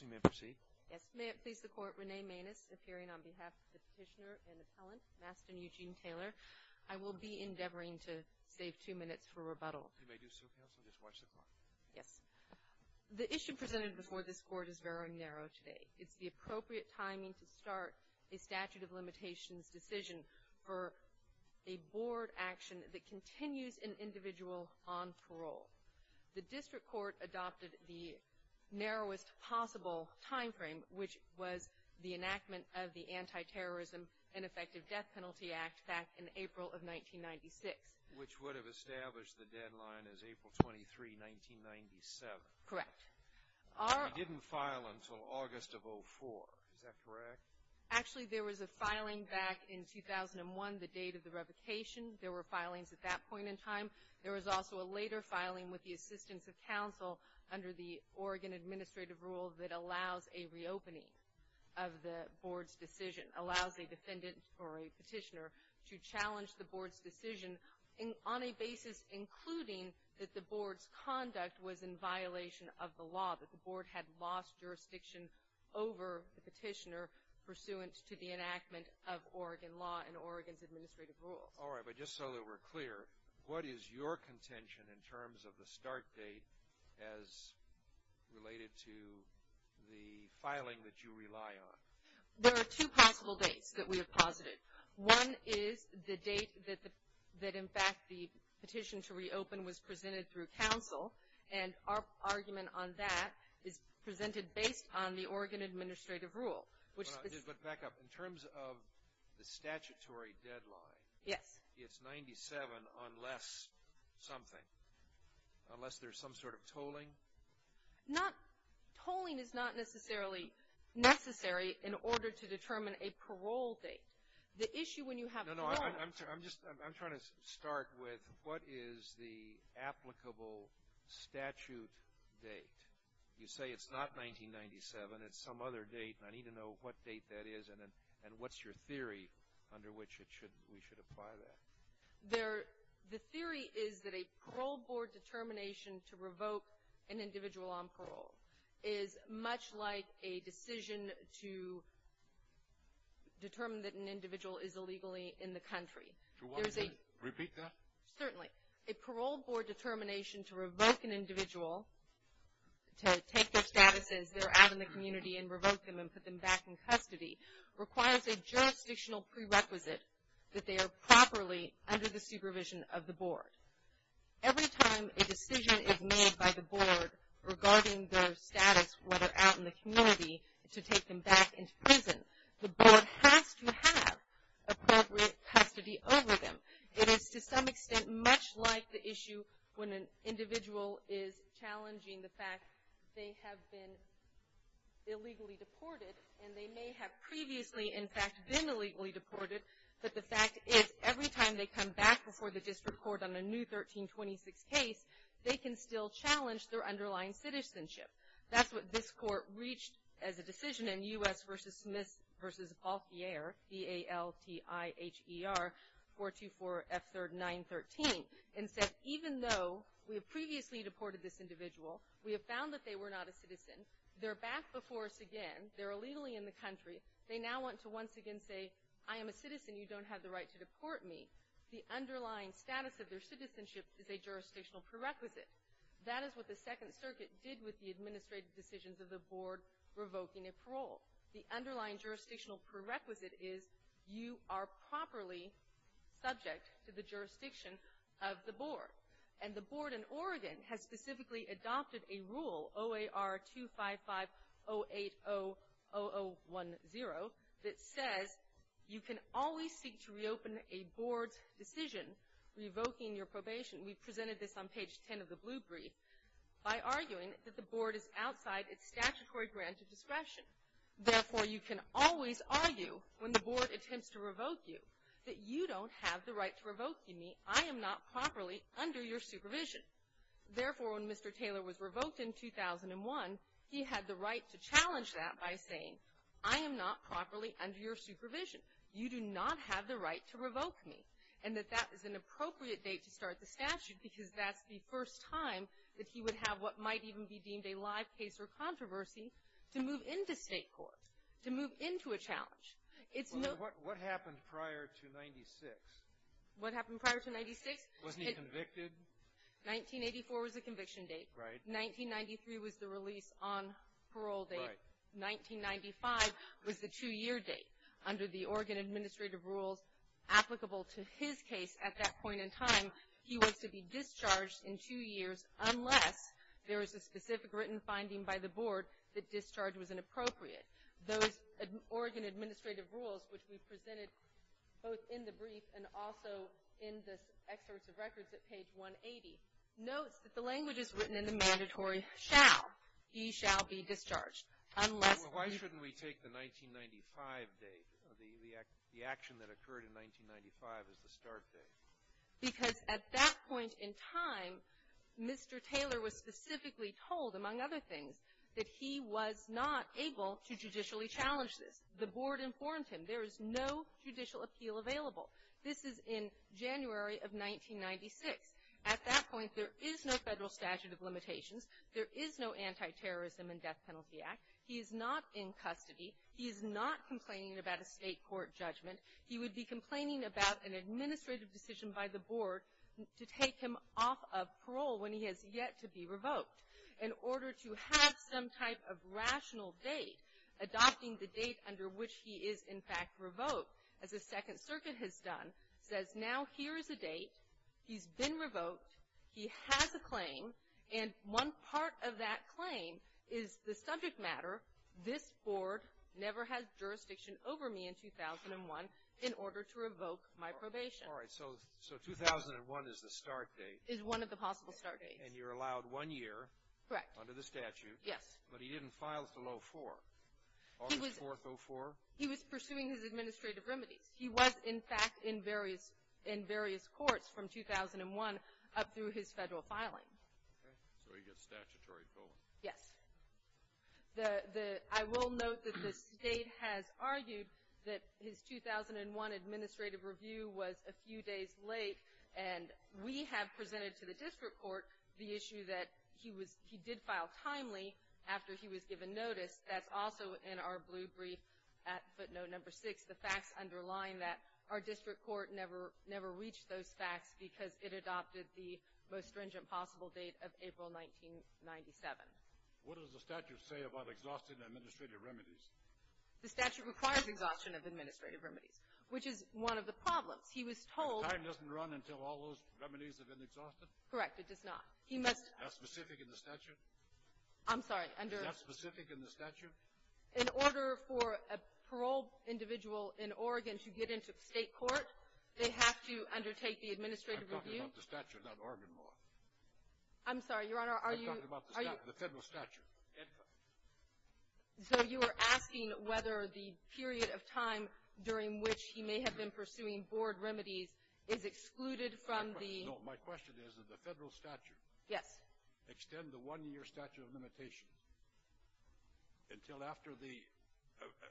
You may proceed. Yes. May it please the Court, Renee Maness, appearing on behalf of the petitioner and appellant, Mastin Eugene Taylor. I will be endeavoring to save two minutes for rebuttal. You may do so, Counsel. Just watch the clock. Yes. The issue presented before this Court is very narrow today. It's the appropriate timing to start a statute of limitations decision for a board action that continues an individual on parole. The district court adopted the narrowest possible timeframe, which was the enactment of the Anti-Terrorism and Effective Death Penalty Act back in April of 1996. Which would have established the deadline as April 23, 1997. Correct. It didn't file until August of 04. Is that correct? Actually, there was a filing back in 2001, the date of the revocation. There were filings at that point in time. There was also a later filing with the assistance of counsel under the Oregon administrative rule that allows a reopening of the board's decision. Allows a defendant or a petitioner to challenge the board's decision on a basis including that the board's conduct was in violation of the law. That the board had lost jurisdiction over the petitioner pursuant to the enactment of Oregon law and Oregon's administrative rules. All right, but just so that we're clear, what is your contention in terms of the start date as related to the filing that you rely on? There are two possible dates that we have posited. One is the date that, in fact, the petition to reopen was presented through counsel. And our argument on that is presented based on the Oregon administrative rule. But back up. In terms of the statutory deadline, it's 97 unless something. Unless there's some sort of tolling? Not – tolling is not necessarily necessary in order to determine a parole date. The issue when you have one – No, no, I'm trying to start with what is the applicable statute date? You say it's not 1997. It's some other date. And I need to know what date that is and what's your theory under which we should apply that. The theory is that a parole board determination to revoke an individual on parole is much like a decision to determine that an individual is illegally in the country. Repeat that? Certainly. A parole board determination to revoke an individual, to take their status as they're out in the community and revoke them and put them back in custody, requires a jurisdictional prerequisite that they are properly under the supervision of the board. Every time a decision is made by the board regarding their status, whether out in the community, to take them back into prison, the board has to have appropriate custody over them. It is, to some extent, much like the issue when an individual is challenging the fact they have been illegally deported, and they may have previously, in fact, been illegally deported, but the fact is every time they come back before the district court on a new 1326 case, they can still challenge their underlying citizenship. That's what this court reached as a decision in U.S. v. Smith v. Balthier, B-A-L-T-I-H-E-R, 424F3913, and said even though we have previously deported this individual, we have found that they were not a citizen, they're back before us again, they're illegally in the country, they now want to once again say, I am a citizen, you don't have the right to deport me. The underlying status of their citizenship is a jurisdictional prerequisite. That is what the Second Circuit did with the administrative decisions of the board revoking a parole. The underlying jurisdictional prerequisite is you are properly subject to the jurisdiction of the board. And the board in Oregon has specifically adopted a rule, OAR-255-080-0010, that says you can always seek to reopen a board's decision revoking your probation. We presented this on page 10 of the Blue Brief by arguing that the board is outside its statutory grant of discretion. Therefore, you can always argue when the board attempts to revoke you that you don't have the right to revoke me, I am not properly under your supervision. Therefore, when Mr. Taylor was revoked in 2001, he had the right to challenge that by saying, I am not properly under your supervision, you do not have the right to revoke me, and that that was an appropriate date to start the statute, because that's the first time that he would have what might even be deemed a live case or controversy to move into state court, to move into a challenge. It's no — Well, what happened prior to 96? What happened prior to 96? Wasn't he convicted? 1984 was the conviction date. Right. 1993 was the release on parole date. Right. 1995 was the two-year date. Under the Oregon Administrative Rules applicable to his case at that point in time, he was to be discharged in two years unless there was a specific written finding by the board that discharge was inappropriate. Those Oregon Administrative Rules, which we presented both in the brief and also in the excerpts of records at page 180, notes that the language is written in the mandatory shall. He shall be discharged unless — Well, why shouldn't we take the 1995 date, the action that occurred in 1995 as the start date? Because at that point in time, Mr. Taylor was specifically told, among other things, that he was not able to judicially challenge this. The board informed him. There is no judicial appeal available. This is in January of 1996. At that point, there is no federal statute of limitations. There is no Antiterrorism and Death Penalty Act. He is not in custody. He is not complaining about a state court judgment. He would be complaining about an administrative decision by the board to take him off of parole when he has yet to be revoked. In order to have some type of rational date, adopting the date under which he is, in fact, revoked, as the Second Circuit has done, says now here is a date. He's been revoked. He has a claim. And one part of that claim is the subject matter, this board never had jurisdiction over me in 2001 in order to revoke my probation. All right. So 2001 is the start date. Is one of the possible start dates. And you're allowed one year. Correct. Under the statute. Yes. But he didn't file until 04, August 4th, 04? He was pursuing his administrative remedies. He was, in fact, in various courts from 2001 up through his federal filing. Okay. So he gets statutory parole. Yes. I will note that the state has argued that his 2001 administrative review was a few days late, and we have presented to the district court the issue that he did file timely after he was given notice. That's also in our blue brief at footnote number six, the facts underlying that our district court never reached those facts because it adopted the most stringent possible date of April 1997. What does the statute say about exhausting administrative remedies? The statute requires exhaustion of administrative remedies, which is one of the problems. He was told. The time doesn't run until all those remedies have been exhausted? Correct. It does not. Is that specific in the statute? I'm sorry. Is that specific in the statute? In order for a paroled individual in Oregon to get into state court, they have to undertake the administrative review. I'm talking about the statute, not Oregon law. I'm sorry, Your Honor. I'm talking about the federal statute. So you are asking whether the period of time during which he may have been pursuing board remedies is excluded from the — No. My question is that the federal statute — Yes. — does extend the one-year statute of limitations until after the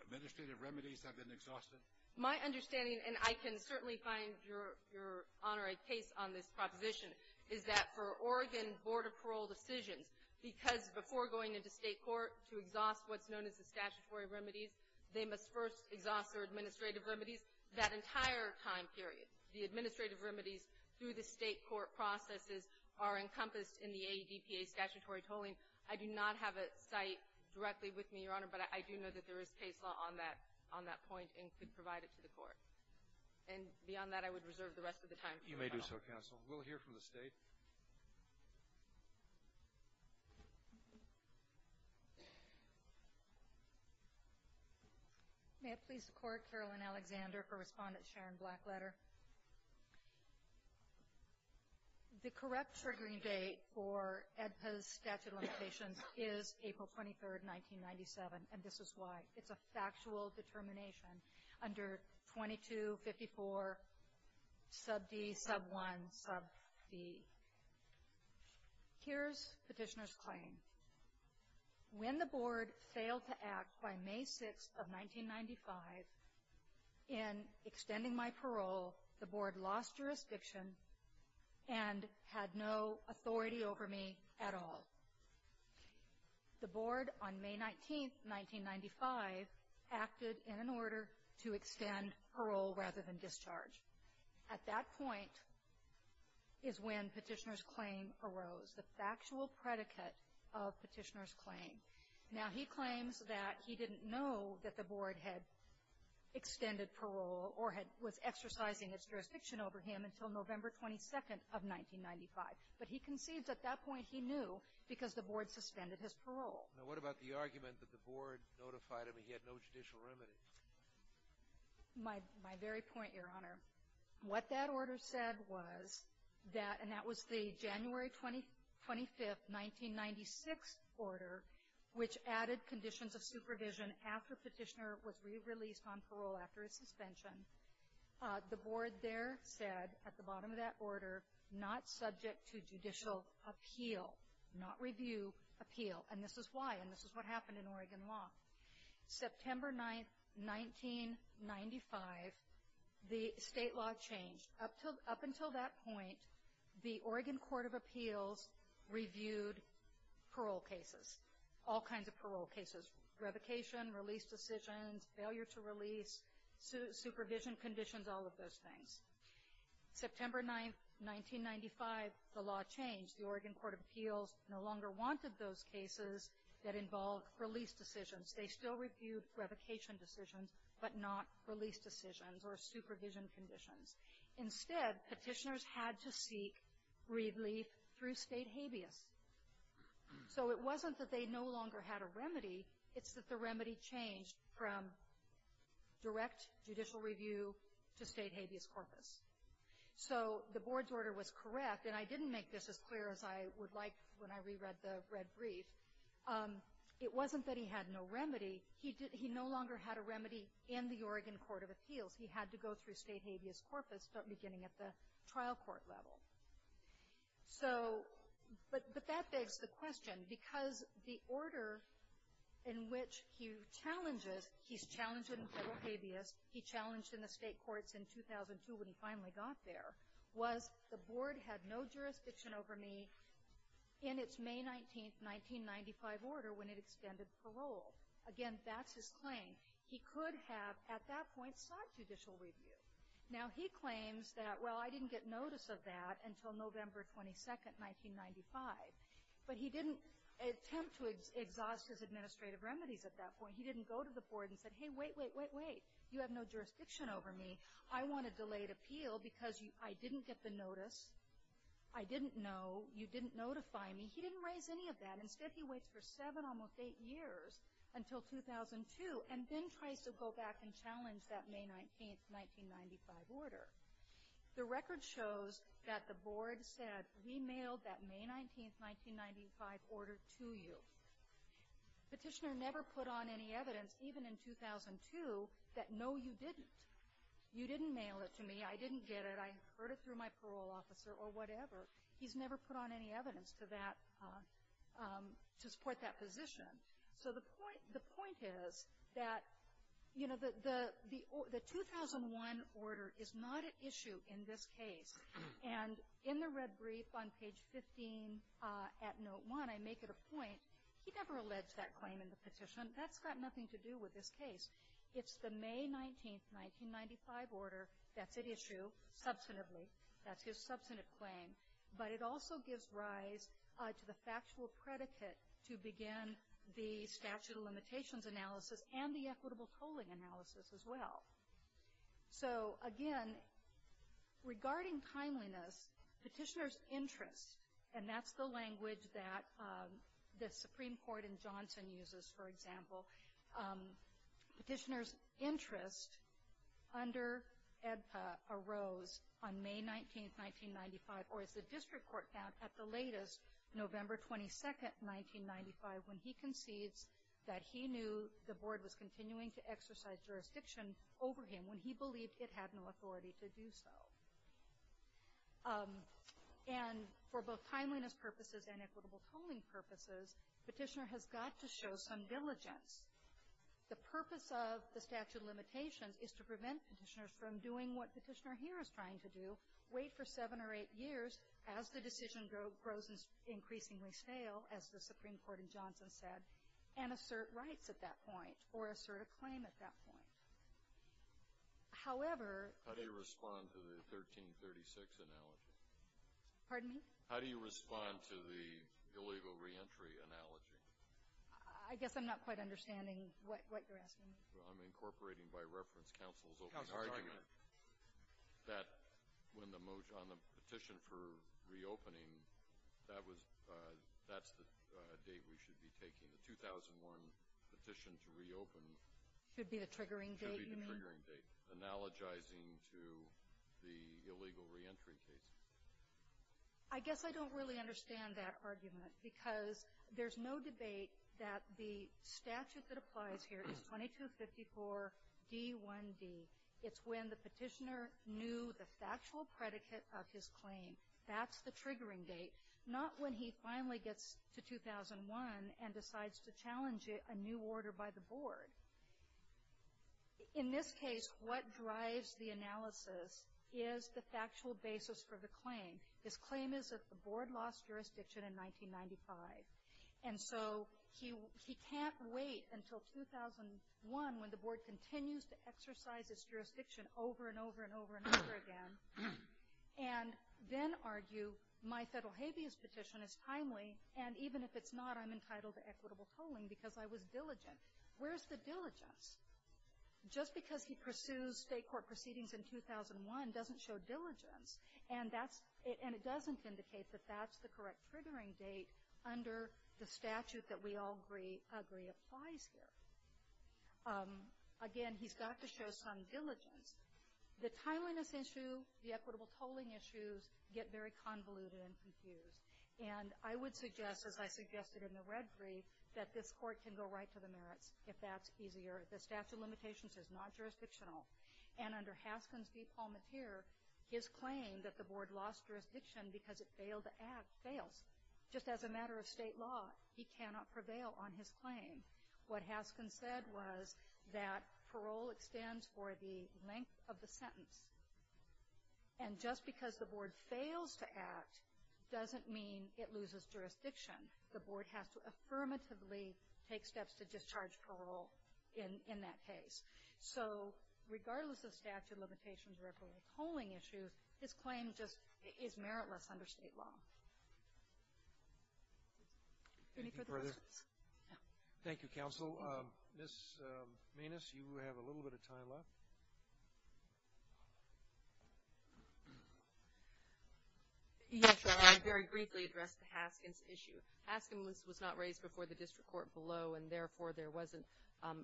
administrative remedies have been exhausted? My understanding, and I can certainly find, Your Honor, a case on this proposition, is that for Oregon board of parole decisions, because before going into state court to exhaust what's known as the statutory remedies, they must first exhaust their administrative remedies that entire time period. The administrative remedies through the state court processes are encompassed in the AEDPA statutory tolling. I do not have a site directly with me, Your Honor, but I do know that there is case law on that point and could provide it to the court. And beyond that, I would reserve the rest of the time. You may do so, counsel. We'll hear from the state. Thank you. May it please the Court, Carolyn Alexander for Respondent Sharon Blackletter. The correct triggering date for AEDPA's statute of limitations is April 23, 1997, and this is why. Here's Petitioner's claim. When the board failed to act by May 6 of 1995 in extending my parole, the board lost jurisdiction and had no authority over me at all. The board on May 19, 1995, acted in an order to extend parole rather than discharge. At that point is when Petitioner's claim arose, the factual predicate of Petitioner's claim. Now, he claims that he didn't know that the board had extended parole or was exercising its jurisdiction over him until November 22 of 1995, but he concedes at that point he knew because the board suspended his parole. Now, what about the argument that the board notified him he had no judicial remedy? My very point, Your Honor, what that order said was that, and that was the January 25, 1996 order, which added conditions of supervision after Petitioner was re-released on parole after his suspension. The board there said at the bottom of that order, not subject to judicial appeal, not review appeal. And this is why, and this is what happened in Oregon law. September 9, 1995, the state law changed. Up until that point, the Oregon Court of Appeals reviewed parole cases, all kinds of parole cases, revocation, release decisions, failure to release, supervision conditions, all of those things. September 9, 1995, the law changed. The Oregon Court of Appeals no longer wanted those cases that involved release decisions. They still reviewed revocation decisions, but not release decisions or supervision conditions. Instead, Petitioners had to seek relief through state habeas. So it wasn't that they no longer had a remedy. It's that the remedy changed from direct judicial review to state habeas corpus. So the board's order was correct, and I didn't make this as clear as I would like when I reread the red brief. It wasn't that he had no remedy. He no longer had a remedy in the Oregon Court of Appeals. He had to go through state habeas corpus, beginning at the trial court level. So, but that begs the question, because the order in which he challenges, he's challenged in federal habeas. He challenged in the state courts in 2002 when he finally got there, was the board had no jurisdiction over me in its May 19, 1995, order when it extended parole. Again, that's his claim. He could have, at that point, sought judicial review. Now, he claims that, well, I didn't get notice of that until November 22, 1995. But he didn't attempt to exhaust his administrative remedies at that point. He didn't go to the board and said, hey, wait, wait, wait, wait. You have no jurisdiction over me. I want a delayed appeal because I didn't get the notice. I didn't know. You didn't notify me. He didn't raise any of that. Instead, he waits for seven, almost eight years, until 2002, and then tries to go back and challenge that May 19, 1995, order. The record shows that the board said, we mailed that May 19, 1995, order to you. Petitioner never put on any evidence, even in 2002, that, no, you didn't. You didn't mail it to me. I didn't get it. I heard it through my parole officer or whatever. He's never put on any evidence to that to support that position. So the point is that, you know, the 2001 order is not at issue in this case. And in the red brief on page 15 at note one, I make it a point, he never alleged that claim in the petition. That's got nothing to do with this case. It's the May 19, 1995, order that's at issue, substantively. That's his substantive claim. But it also gives rise to the factual predicate to begin the statute of limitations analysis and the equitable tolling analysis as well. So, again, regarding timeliness, petitioner's interest, and that's the language that the Supreme Court in Johnson uses, for example. Petitioner's interest under EBPA arose on May 19, 1995, or as the district court found at the latest, November 22, 1995, when he concedes that he knew the board was continuing to exercise jurisdiction over him when he believed it had no authority to do so. And for both timeliness purposes and equitable tolling purposes, petitioner has got to show some diligence. The purpose of the statute of limitations is to prevent petitioners from doing what petitioner here is trying to do, wait for seven or eight years as the decision grows increasingly stale, as the Supreme Court in Johnson said, and assert rights at that point or assert a claim at that point. However, How do you respond to the 1336 analogy? Pardon me? How do you respond to the illegal reentry analogy? I guess I'm not quite understanding what you're asking me. I'm incorporating by reference counsel's argument that on the petition for reopening, that's the date we should be taking the 2001 petition to reopen. Should be the triggering date, you mean? Should be the triggering date, analogizing to the illegal reentry case. Because there's no debate that the statute that applies here is 2254 D1D. It's when the petitioner knew the factual predicate of his claim. That's the triggering date. Not when he finally gets to 2001 and decides to challenge a new order by the board. In this case, what drives the analysis is the factual basis for the claim. His claim is that the board lost jurisdiction in 1995. And so he can't wait until 2001, when the board continues to exercise its jurisdiction over and over and over and over again, and then argue, my federal habeas petition is timely, and even if it's not, I'm entitled to equitable tolling because I was diligent. Where's the diligence? Just because he pursues state court proceedings in 2001 doesn't show diligence. And it doesn't indicate that that's the correct triggering date under the statute that we all agree applies here. Again, he's got to show some diligence. The timeliness issue, the equitable tolling issues get very convoluted and confused. And I would suggest, as I suggested in the red brief, that this court can go right to the merits if that's easier. The statute of limitations is not jurisdictional. And under Haskins v. Palmateer, his claim that the board lost jurisdiction because it failed to act fails. Just as a matter of state law, he cannot prevail on his claim. What Haskins said was that parole extends for the length of the sentence. And just because the board fails to act doesn't mean it loses jurisdiction. The board has to affirmatively take steps to discharge parole in that case. So regardless of statute of limitations or equitable tolling issues, his claim just is meritless under state law. Any further questions? Thank you, Counsel. Ms. Maness, you have a little bit of time left. Yes, Your Honor. I'd very briefly address the Haskins issue. Haskins was not raised before the district court below, and therefore, there wasn't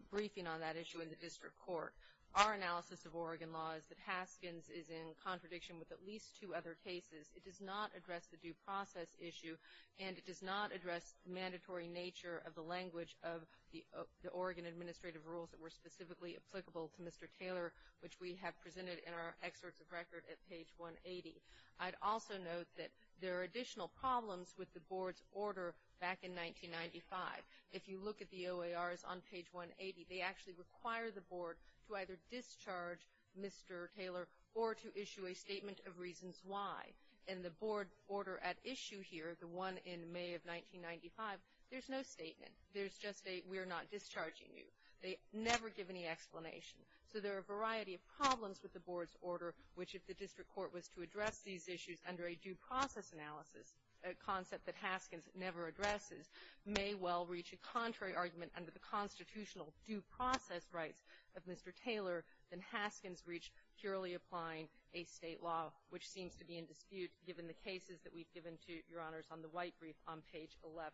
briefing on that issue in the district court. Our analysis of Oregon law is that Haskins is in contradiction with at least two other cases. It does not address the due process issue, and it does not address the mandatory nature of the language of the Oregon administrative rules that were specifically applicable to Mr. Taylor, which we have presented in our excerpts of record at page 180. I'd also note that there are additional problems with the board's order back in 1995. If you look at the OARs on page 180, they actually require the board to either discharge Mr. Taylor or to issue a statement of reasons why. In the board order at issue here, the one in May of 1995, there's no statement. There's just a we're not discharging you. They never give any explanation. So there are a variety of problems with the board's order, which if the district court was to address these issues under a due process analysis, a concept that Haskins never addresses, may well reach a contrary argument under the constitutional due process rights of Mr. Taylor than Haskins reached purely applying a state law, which seems to be in dispute given the cases that we've given to Your Honors on the white brief on page 11.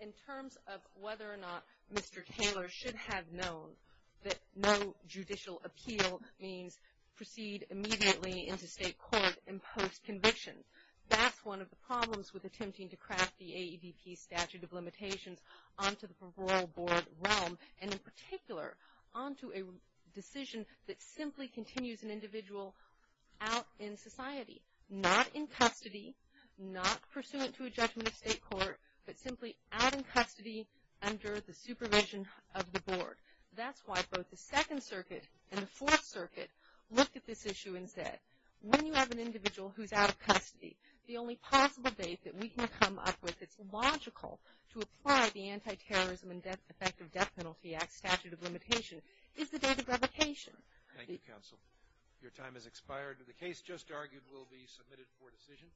In terms of whether or not Mr. Taylor should have known that no judicial appeal means proceed immediately into state court and post conviction, that's one of the problems with attempting to craft the AEDP statute of limitations onto the parole board realm, and in particular, onto a decision that simply continues an individual out in society, not in custody, not pursuant to a judgment of state court, but simply out in custody under the supervision of the board. That's why both the Second Circuit and the Fourth Circuit looked at this issue and said, when you have an individual who's out of custody, the only possible date that we can come up with that's logical to apply the Anti-Terrorism and Effective Death Penalty Act statute of limitation is the date of revocation. Thank you, counsel. Your time has expired. The case just argued will be submitted for decision.